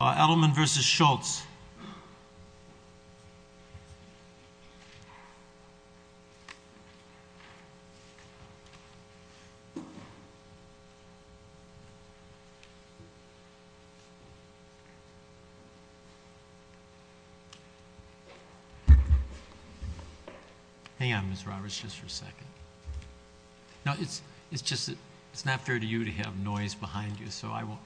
Edelman v. Schultz Hang on, Ms. Roberts, just for a second. No, it's just that it's not fair to you to have noise behind you, so I won't...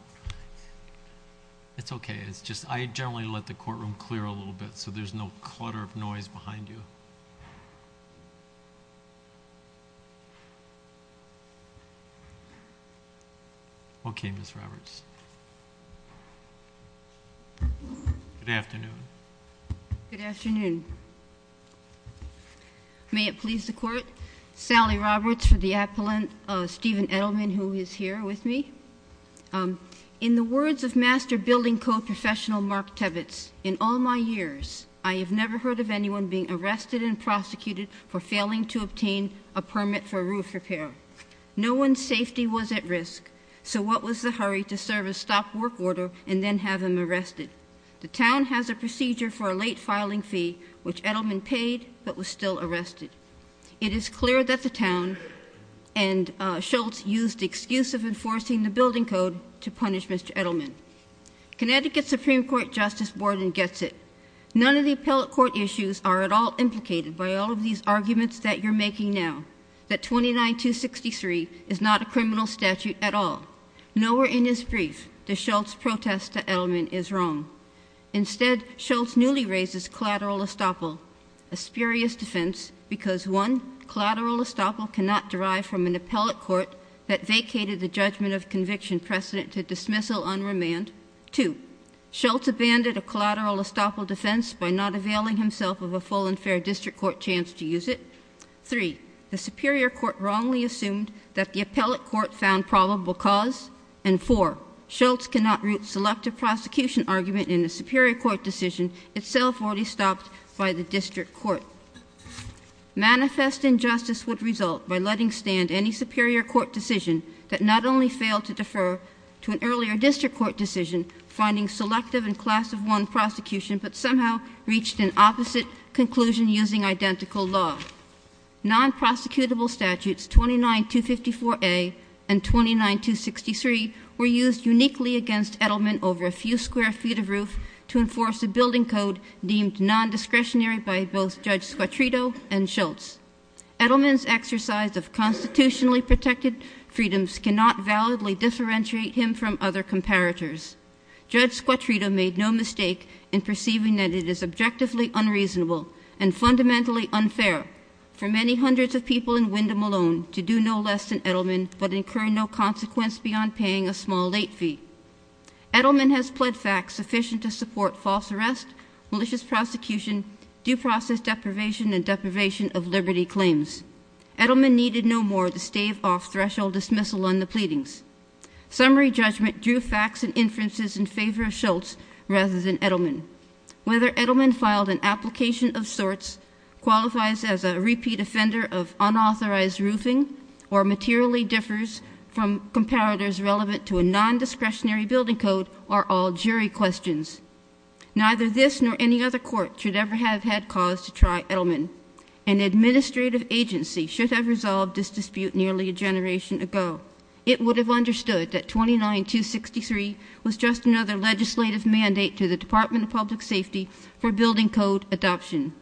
It's okay, it's just I generally let the courtroom clear a little bit so there's no clutter of noise behind you. Okay, Ms. Roberts. Good afternoon. Good afternoon. May it please the Court, Sally Roberts for the Appellant, Stephen Edelman who is here with me. In the words of master building code professional Mark Tevitz, In all my years, I have never heard of anyone being arrested and prosecuted for failing to obtain a permit for a roof repair. No one's safety was at risk, so what was the hurry to serve a stop work order and then have him arrested? The town has a procedure for a late filing fee, which Edelman paid but was still arrested. It is clear that the town and Schultz used the excuse of enforcing the building code to punish Mr. Edelman. Connecticut Supreme Court Justice Borden gets it. None of the appellate court issues are at all implicated by all of these arguments that you're making now. That 29263 is not a criminal statute at all. Nowhere in his brief does Schultz protest that Edelman is wrong. Instead, Schultz newly raises collateral estoppel, a spurious defense because 1. Collateral estoppel cannot derive from an appellate court that vacated the judgment of conviction precedent to dismissal on remand. 2. Schultz abandoned a collateral estoppel defense by not availing himself of a full and fair district court chance to use it. 3. The superior court wrongly assumed that the appellate court found probable cause. And 4. Schultz cannot root selective prosecution argument in a superior court decision itself already stopped by the district court. Manifest injustice would result by letting stand any superior court decision that not only failed to defer to an earlier district court decision, finding selective and class of one prosecution, but somehow reached an opposite conclusion using identical law. Non-prosecutable statutes 29254A and 29263 were used uniquely against Edelman over a few square feet of roof to enforce a building code deemed non-discretionary by both Judge Squitrito and Schultz. Edelman's exercise of constitutionally protected freedoms cannot validly differentiate him from other comparators. Judge Squitrito made no mistake in perceiving that it is objectively unreasonable and fundamentally unfair for many hundreds of people in Wyndham alone to do no less than Edelman but incur no consequence beyond paying a small late fee. Edelman has pled facts sufficient to support false arrest, malicious prosecution, due process deprivation, and deprivation of liberty claims. Edelman needed no more the stave-off threshold dismissal on the pleadings. Summary judgment drew facts and inferences in favor of Schultz rather than Edelman. Whether Edelman filed an application of sorts, qualifies as a repeat offender of unauthorized roofing, or materially differs from comparators relevant to a non-discretionary building code are all jury questions. Neither this nor any other court should ever have had cause to try Edelman. An administrative agency should have resolved this dispute nearly a generation ago. It would have understood that 29263 was just another legislative mandate to the Department of Public Safety for building code adoption.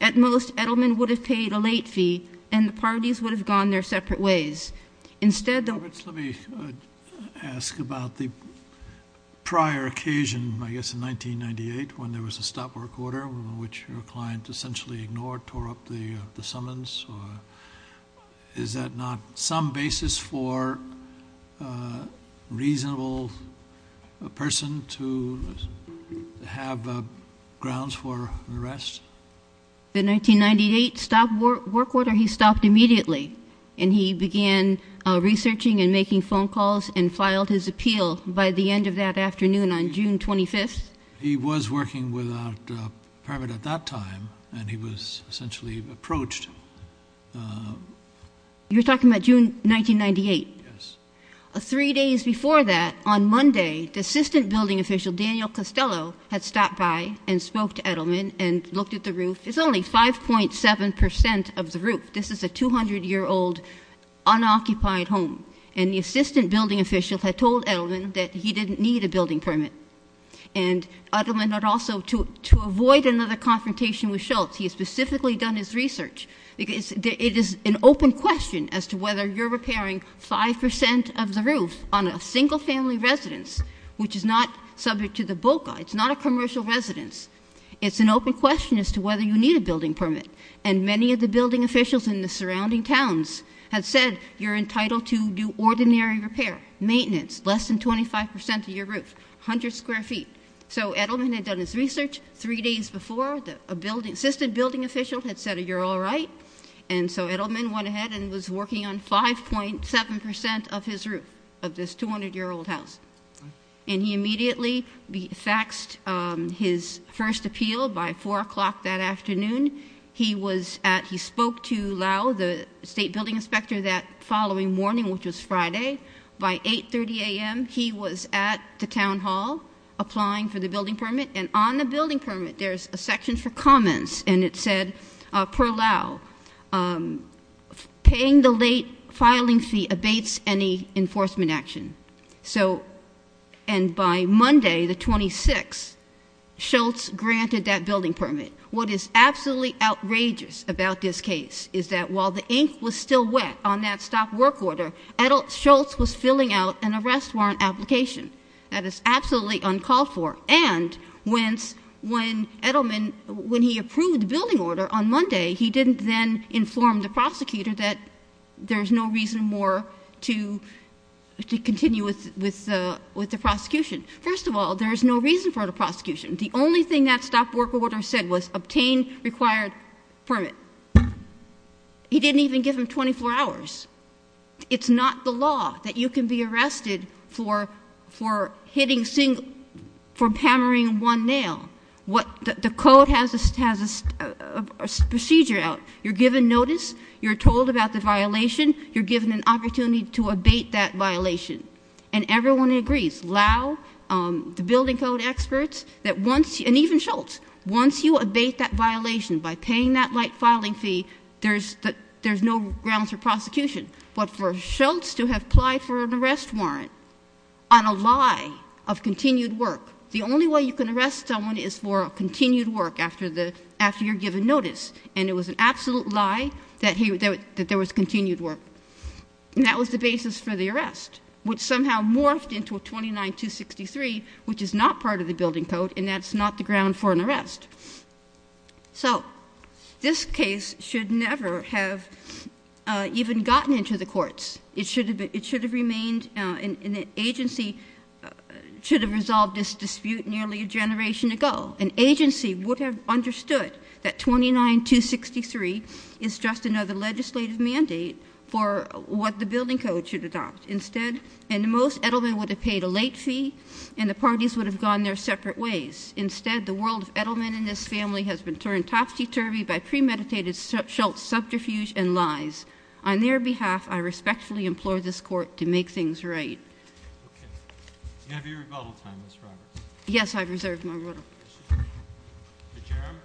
At most, Edelman would have paid a late fee and the parties would have gone their separate ways. Roberts, let me ask about the prior occasion, I guess in 1998, when there was a stop work order, which your client essentially ignored, tore up the summons. Is that not some basis for a reasonable person to have grounds for arrest? The 1998 stop work order, he stopped immediately. And he began researching and making phone calls and filed his appeal by the end of that afternoon on June 25th. He was working without a permit at that time, and he was essentially approached. You're talking about June 1998? Yes. Three days before that, on Monday, the assistant building official, Daniel Costello, had stopped by and spoke to Edelman and looked at the roof. It's only 5.7% of the roof. This is a 200-year-old unoccupied home. And the assistant building official had told Edelman that he didn't need a building permit. And Edelman had also, to avoid another confrontation with Schultz, he had specifically done his research. It is an open question as to whether you're repairing 5% of the roof on a single-family residence, which is not subject to the BOCA. It's not a commercial residence. It's an open question as to whether you need a building permit. And many of the building officials in the surrounding towns had said, you're entitled to do ordinary repair, maintenance, less than 25% of your roof, 100 square feet. So Edelman had done his research. Three days before, the assistant building official had said, you're all right. And so Edelman went ahead and was working on 5.7% of his roof of this 200-year-old house. And he immediately faxed his first appeal by 4 o'clock that afternoon. He spoke to Lau, the state building inspector, that following morning, which was Friday. By 8.30 a.m., he was at the town hall applying for the building permit. And on the building permit, there's a section for comments. And it said, per Lau, paying the late filing fee abates any enforcement action. So, and by Monday, the 26th, Schultz granted that building permit. What is absolutely outrageous about this case is that while the ink was still wet on that stop work order, Schultz was filling out an arrest warrant application. That is absolutely uncalled for. And when Edelman, when he approved the building order on Monday, he didn't then inform the prosecutor that there's no reason more to continue with the prosecution. First of all, there's no reason for the prosecution. The only thing that stop work order said was obtain required permit. He didn't even give him 24 hours. It's not the law that you can be arrested for hammering one nail. The code has a procedure out. You're given notice, you're told about the violation, you're given an opportunity to abate that violation. And everyone agrees, Lau, the building code experts, and even Schultz, once you abate that violation by paying that late filing fee, there's no grounds for prosecution. But for Schultz to have applied for an arrest warrant on a lie of continued work, the only way you can arrest someone is for continued work after you're given notice. And it was an absolute lie that there was continued work. And that was the basis for the arrest, which somehow morphed into a 29-263, which is not part of the building code, and that's not the ground for an arrest. So this case should never have even gotten into the courts. It should have remained in the agency, should have resolved this dispute nearly a generation ago. An agency would have understood that 29-263 is just another legislative mandate for what the building code should adopt. And most Edelman would have paid a late fee, and the parties would have gone their separate ways. Instead, the world of Edelman and his family has been turned topsy-turvy by premeditated Schultz subterfuge and lies. On their behalf, I respectfully implore this Court to make things right. Okay. Do you have your rebuttal time, Ms. Roberts? Yes, I've reserved my rebuttal. Mr. Jerram?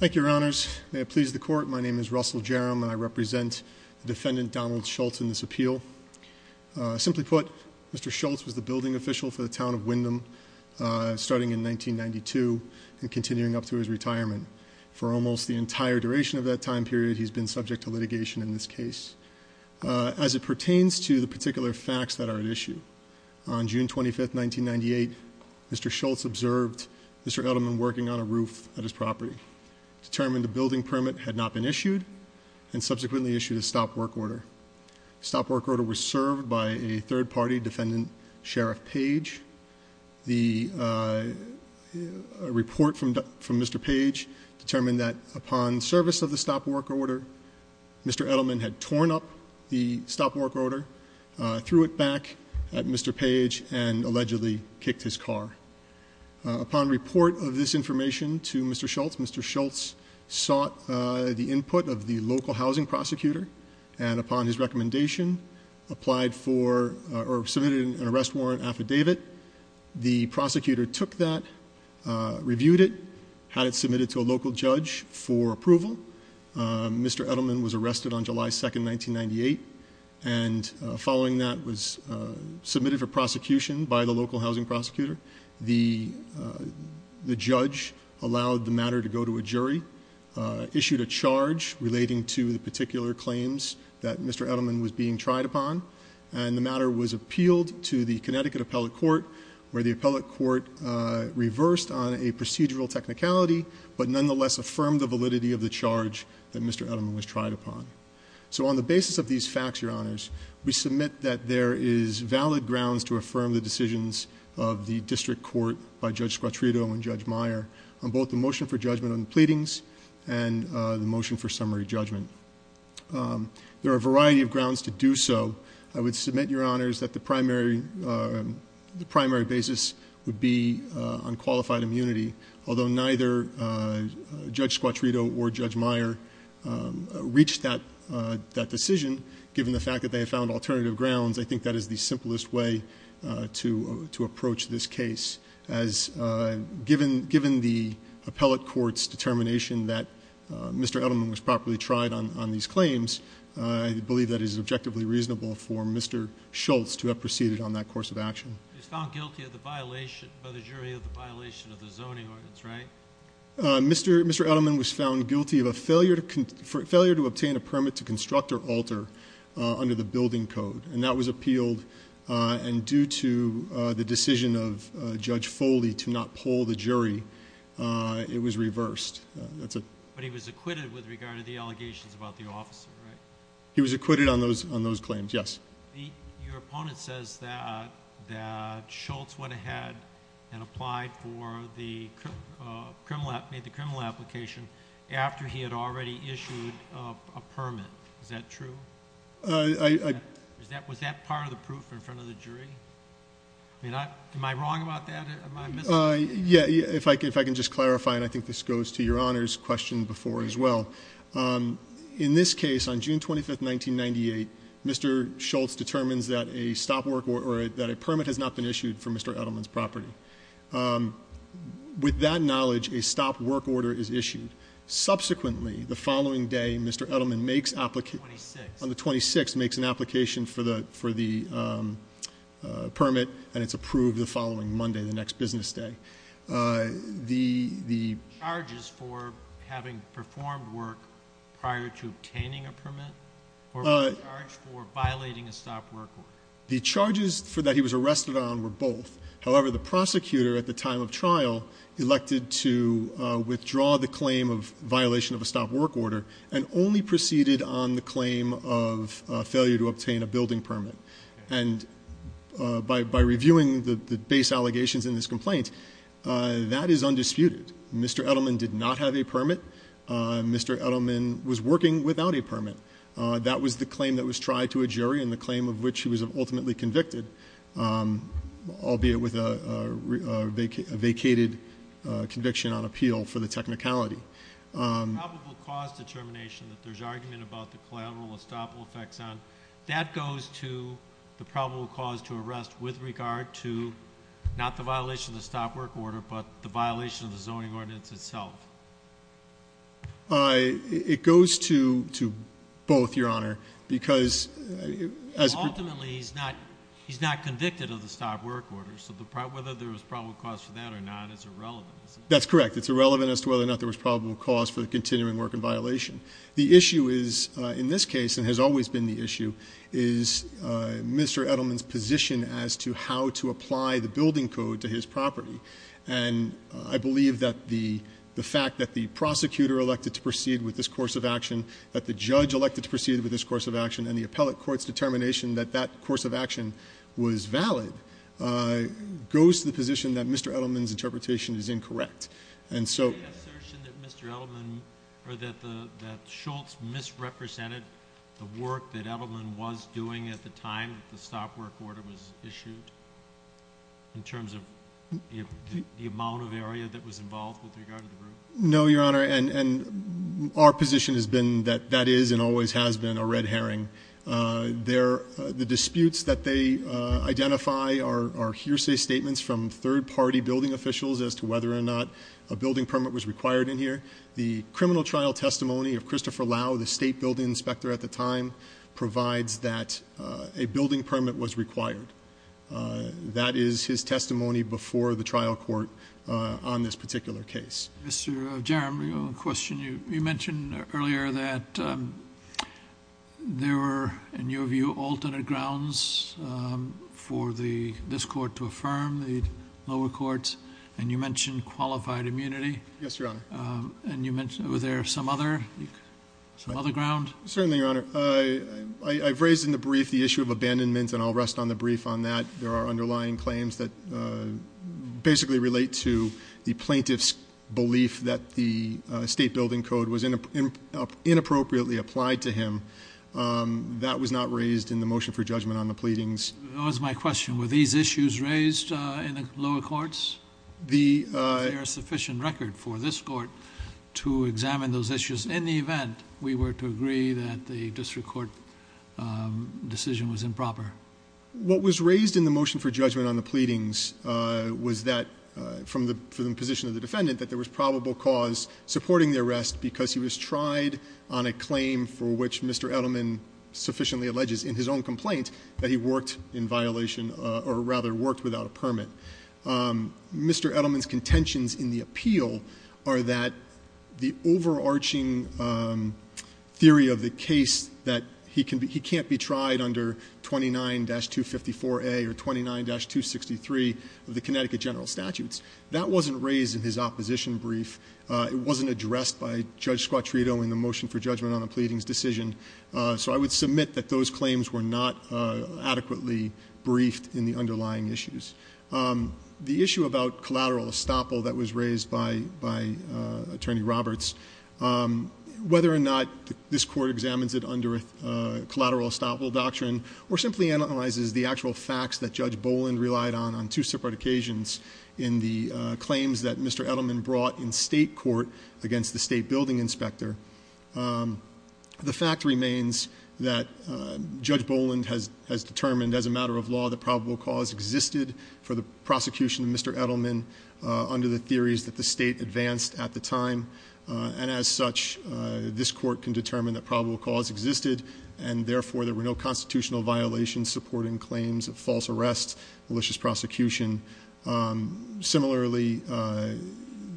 Thank you, Your Honors. May it please the Court, my name is Russell Jerram, and I represent Defendant Donald Schultz in this appeal. Simply put, Mr. Schultz was the building official for the town of Wyndham starting in 1992 and continuing up to his retirement. For almost the entire duration of that time period, he's been subject to litigation in this case. As it pertains to the particular facts that are at issue, on June 25, 1998, Mr. Schultz observed Mr. Edelman working on a roof at his property, determined a building permit had not been issued, and subsequently issued a stop work order. The stop work order was served by a third-party defendant, Sheriff Page. The report from Mr. Page determined that upon service of the stop work order, Mr. Edelman had torn up the stop work order, threw it back at Mr. Page, and allegedly kicked his car. Upon report of this information to Mr. Schultz, Mr. Schultz sought the input of the local housing prosecutor, and upon his recommendation, submitted an arrest warrant affidavit. The prosecutor took that, reviewed it, had it submitted to a local judge for approval. Mr. Edelman was arrested on July 2, 1998, and following that was submitted for prosecution by the local housing prosecutor. The judge allowed the matter to go to a jury, issued a charge relating to the particular claims that Mr. Edelman was being tried upon, and the matter was appealed to the Connecticut Appellate Court, where the appellate court reversed on a procedural technicality, but nonetheless affirmed the validity of the charge that Mr. Edelman was tried upon. So on the basis of these facts, Your Honors, we submit that there is valid grounds to affirm the decisions of the district court by Judge Squatrito and Judge Meyer on both the motion for judgment on the pleadings and the motion for summary judgment. There are a variety of grounds to do so. I would submit, Your Honors, that the primary basis would be on qualified immunity, although neither Judge Squatrito or Judge Meyer reached that decision, given the fact that they had found alternative grounds, I think that is the simplest way to approach this case. Given the appellate court's determination that Mr. Edelman was properly tried on these claims, I believe that it is objectively reasonable for Mr. Schultz to have proceeded on that course of action. He was found guilty by the jury of the violation of the zoning ordinance, right? Mr. Edelman was found guilty of a failure to obtain a permit to construct or alter under the building code, and that was appealed, and due to the decision of Judge Foley to not poll the jury, it was reversed. But he was acquitted with regard to the allegations about the officer, right? He was acquitted on those claims, yes. Your opponent says that Schultz went ahead and made the criminal application after he had already issued a permit. Is that true? Was that part of the proof in front of the jury? Am I wrong about that? If I can just clarify, and I think this goes to Your Honors' question before as well, in this case, on June 25th, 1998, Mr. Schultz determines that a permit has not been issued for Mr. Edelman's property. With that knowledge, a stop work order is issued. Subsequently, the following day, Mr. Edelman makes an application for the permit, and it's approved the following Monday, the next business day. The charges for having performed work prior to obtaining a permit, or was he charged for violating a stop work order? The charges for that he was arrested on were both. However, the prosecutor at the time of trial elected to withdraw the claim of violation of a stop work order and only proceeded on the claim of failure to obtain a building permit. And by reviewing the base allegations in this complaint, that is undisputed. Mr. Edelman did not have a permit. Mr. Edelman was working without a permit. That was the claim that was tried to a jury and the claim of which he was ultimately convicted, albeit with a vacated conviction on appeal for the technicality. The probable cause determination that there's argument about the collateral estoppel effects on, that goes to the probable cause to arrest with regard to, not the violation of the stop work order, but the violation of the zoning ordinance itself. It goes to both, Your Honor, because... Ultimately, he's not convicted of the stop work order, so whether there was probable cause for that or not is irrelevant. That's correct. It's irrelevant as to whether or not there was probable cause for the continuing work in violation. The issue is, in this case, and has always been the issue, is Mr. Edelman's position as to how to apply the building code to his property. And I believe that the fact that the prosecutor elected to proceed with this course of action, that the judge elected to proceed with this course of action, and the appellate court's determination that that course of action was valid, goes to the position that Mr. Edelman's interpretation is incorrect. And so... Any assertion that Mr. Edelman, or that Schultz misrepresented the work that Edelman was doing at the time that the stop work order was issued? In terms of the amount of area that was involved with regard to the roof? No, Your Honor, and our position has been that that is and always has been a red herring. The disputes that they identify are hearsay statements from third-party building officials as to whether or not a building permit was required in here. The criminal trial testimony of Christopher Lau, the state building inspector at the time, provides that a building permit was required. That is his testimony before the trial court on this particular case. Mr. Jaramillo, a question. You mentioned earlier that there were, in your view, alternate grounds for this court to affirm, the lower courts, and you mentioned qualified immunity. Yes, Your Honor. And you mentioned, were there some other grounds? Certainly, Your Honor. I've raised in the brief the issue of abandonment, and I'll rest on the brief on that. There are underlying claims that basically relate to the plaintiff's belief that the state building code was inappropriately applied to him. That was not raised in the motion for judgment on the pleadings. That was my question. Were these issues raised in the lower courts? Is there a sufficient record for this court to examine those issues in the event we were to agree that the district court decision was improper? What was raised in the motion for judgment on the pleadings was that, from the position of the defendant, that there was probable cause supporting the arrest because he was tried on a claim for which Mr. Edelman sufficiently alleges in his own complaint that he worked in violation, or rather worked without a permit. Mr. Edelman's contentions in the appeal are that the overarching theory of the case that he can't be tried under 29-254A or 29-263 of the Connecticut general statute that wasn't raised in his opposition brief. It wasn't addressed by Judge Squattrito in the motion for judgment on the pleadings decision. So I would submit that those claims were not adequately briefed in the underlying issues. The issue about collateral estoppel that was raised by Attorney Roberts, whether or not this court examines it under collateral estoppel doctrine or simply analyzes the actual facts that Judge Boland relied on on two separate occasions in the claims that Mr. Edelman brought in state court against the state building inspector. The fact remains that Judge Boland has determined as a matter of law that probable cause existed for the prosecution of Mr. Edelman under the theories that the state advanced at the time, and as such, this court can determine that probable cause existed, and therefore there were no constitutional violations supporting claims of false arrests, malicious prosecution. Similarly,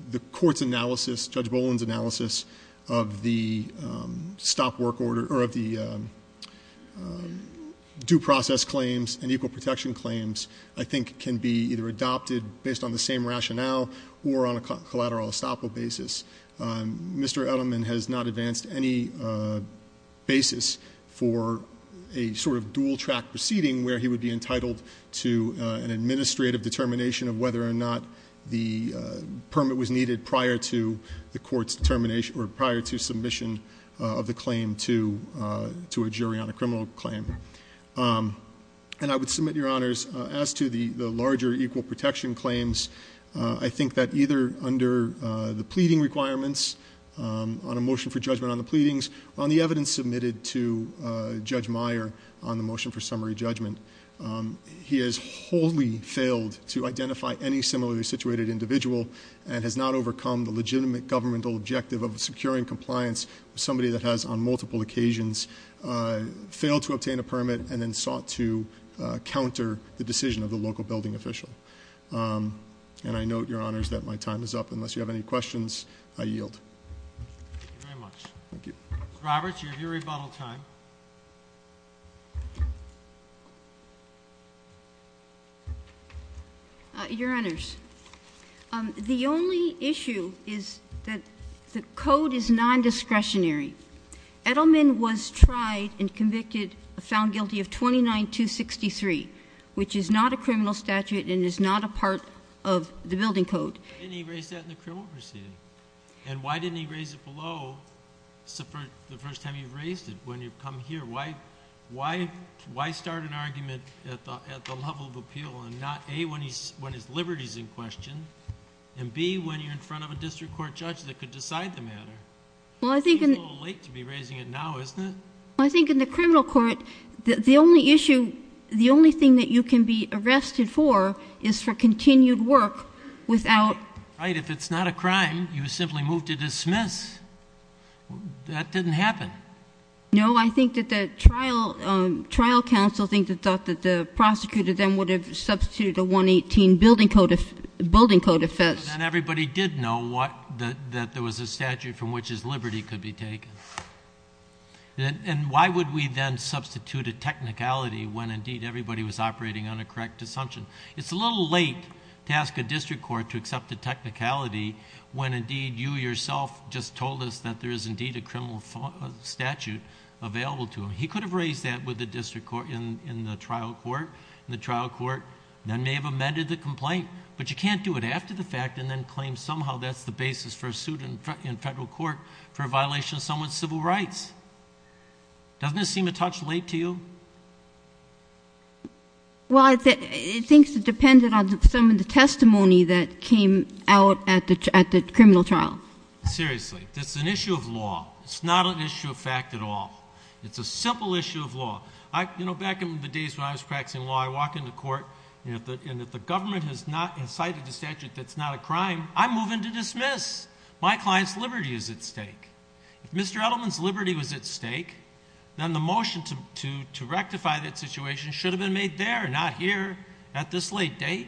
the court's analysis, Judge Boland's analysis of the stop work order, or of the due process claims and equal protection claims, I think can be either adopted based on the same rationale or on a collateral estoppel basis. Mr. Edelman has not advanced any basis for a sort of dual-track proceeding where he would be entitled to an administrative determination of whether or not the permit was needed prior to the court's determination or prior to submission of the claim to a jury on a criminal claim. And I would submit, Your Honors, as to the larger equal protection claims, I think that either under the pleading requirements, on a motion for judgment on the pleadings, on the evidence submitted to Judge Meyer on the motion for summary judgment, he has wholly failed to identify any similarly situated individual and has not overcome the legitimate governmental objective of securing compliance with somebody that has, on multiple occasions, failed to obtain a permit and then sought to counter the decision of the local building official. And I note, Your Honors, that my time is up. Unless you have any questions, I yield. Thank you very much. Thank you. Ms. Roberts, you have your rebuttal time. Your Honors, the only issue is that the code is non-discretionary. Edelman was tried and convicted, found guilty of 29-263, which is not a criminal statute and is not a part of the building code. Why didn't he raise that in the criminal proceeding? And why didn't he raise it below the first time you've raised it, when you've come here? Why start an argument at the level of appeal and not, A, when his liberty is in question and, B, when you're in front of a district court judge that could decide the matter? Well, I think... It seems a little late to be raising it now, isn't it? I think in the criminal court, the only issue... the only thing that you can be arrested for is for continued work without... Right. If it's not a crime, you simply move to dismiss. That didn't happen. No. I think that the trial counsel thought that the prosecutor then would have substituted a 118 building code offense. Then everybody did know that there was a statute from which his liberty could be taken. Why would we then substitute a technicality when, indeed, everybody was operating on a correct assumption? It's a little late to ask a district court to accept a technicality when, indeed, you yourself just told us that there is, indeed, a criminal statute available to him. He could have raised that with the district court in the trial court. The trial court then may have amended the complaint, but you can't do it after the fact and then claim somehow that's the basis for a suit in federal court for a violation of someone's civil rights. Doesn't this seem a touch late to you? Well, I think it depends on some of the testimony that came out at the criminal trial. Seriously. It's an issue of law. It's not an issue of fact at all. It's a simple issue of law. You know, back in the days when I was practicing law, I'd walk into court, and if the government has not incited a statute that's not a crime, I move into dismiss. My client's liberty is at stake. If Mr. Edelman's liberty was at stake, then the motion to rectify that situation should have been made there and not here at this late date.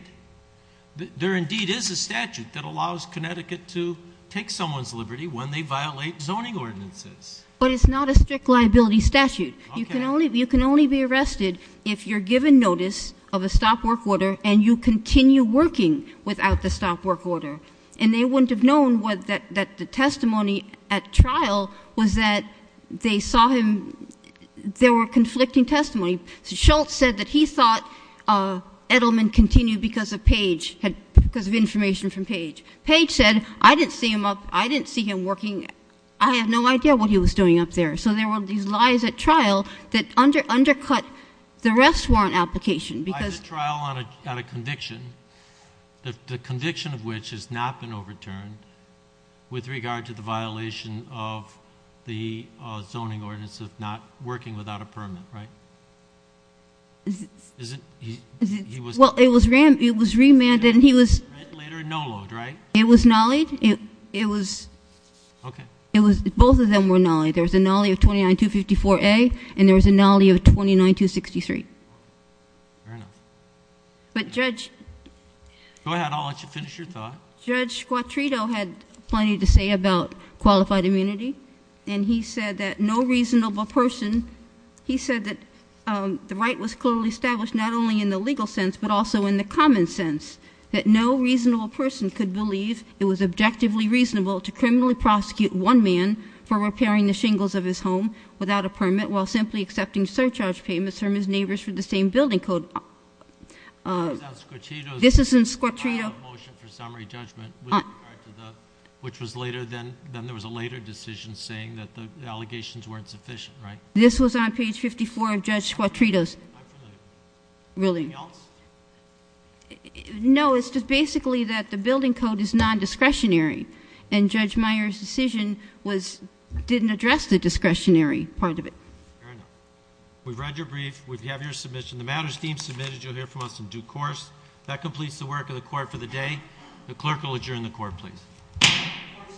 There, indeed, is a statute that allows Connecticut to take someone's liberty when they violate zoning ordinances. But it's not a strict liability statute. Okay. You can only be arrested if you're given notice of a stop work order and you continue working without the stop work order. And they wouldn't have known that the testimony at trial was that they saw him ñ they were conflicting testimony. Schultz said that he thought Edelman continued because of Page, because of information from Page. Page said, I didn't see him up, I didn't see him working, I have no idea what he was doing up there. So there were these lies at trial that undercut the rest warrant application. Lies at trial on a conviction, the conviction of which has not been overturned, with regard to the violation of the zoning ordinance of not working without a permit, right? Well, it was remanded and he was ñ Later a no-load, right? It was nollied. It was ñ Okay. Both of them were nollied. There was a nollie of 29254A and there was a nollie of 29263. Fair enough. But Judge ñ Go ahead, I'll let you finish your thought. Judge Quattrito had plenty to say about qualified immunity and he said that no reasonable person ñ he said that the right was clearly established not only in the legal sense but also in the common sense, that no reasonable person could believe it was objectively reasonable to criminally prosecute one man for repairing the shingles of his home without a permit while simply accepting surcharge payments from his neighbors for the same building code. This was on Quattrito's ñ This is on Quattrito's ñ File of motion for summary judgment with regard to the ñ which was later than ñ then there was a later decision saying that the allegations weren't sufficient, right? This was on page 54 of Judge Quattrito's ñ I'm familiar. Really. Anything else? No. It's just basically that the building code is nondiscretionary and Judge Meyer's decision was ñ didn't address the discretionary part of it. Fair enough. We've read your brief. We have your submission. The matter is deemed submitted. You'll hear from us in due course. That completes the work of the court for the day. The clerk will adjourn the court, please. Court is adjourned.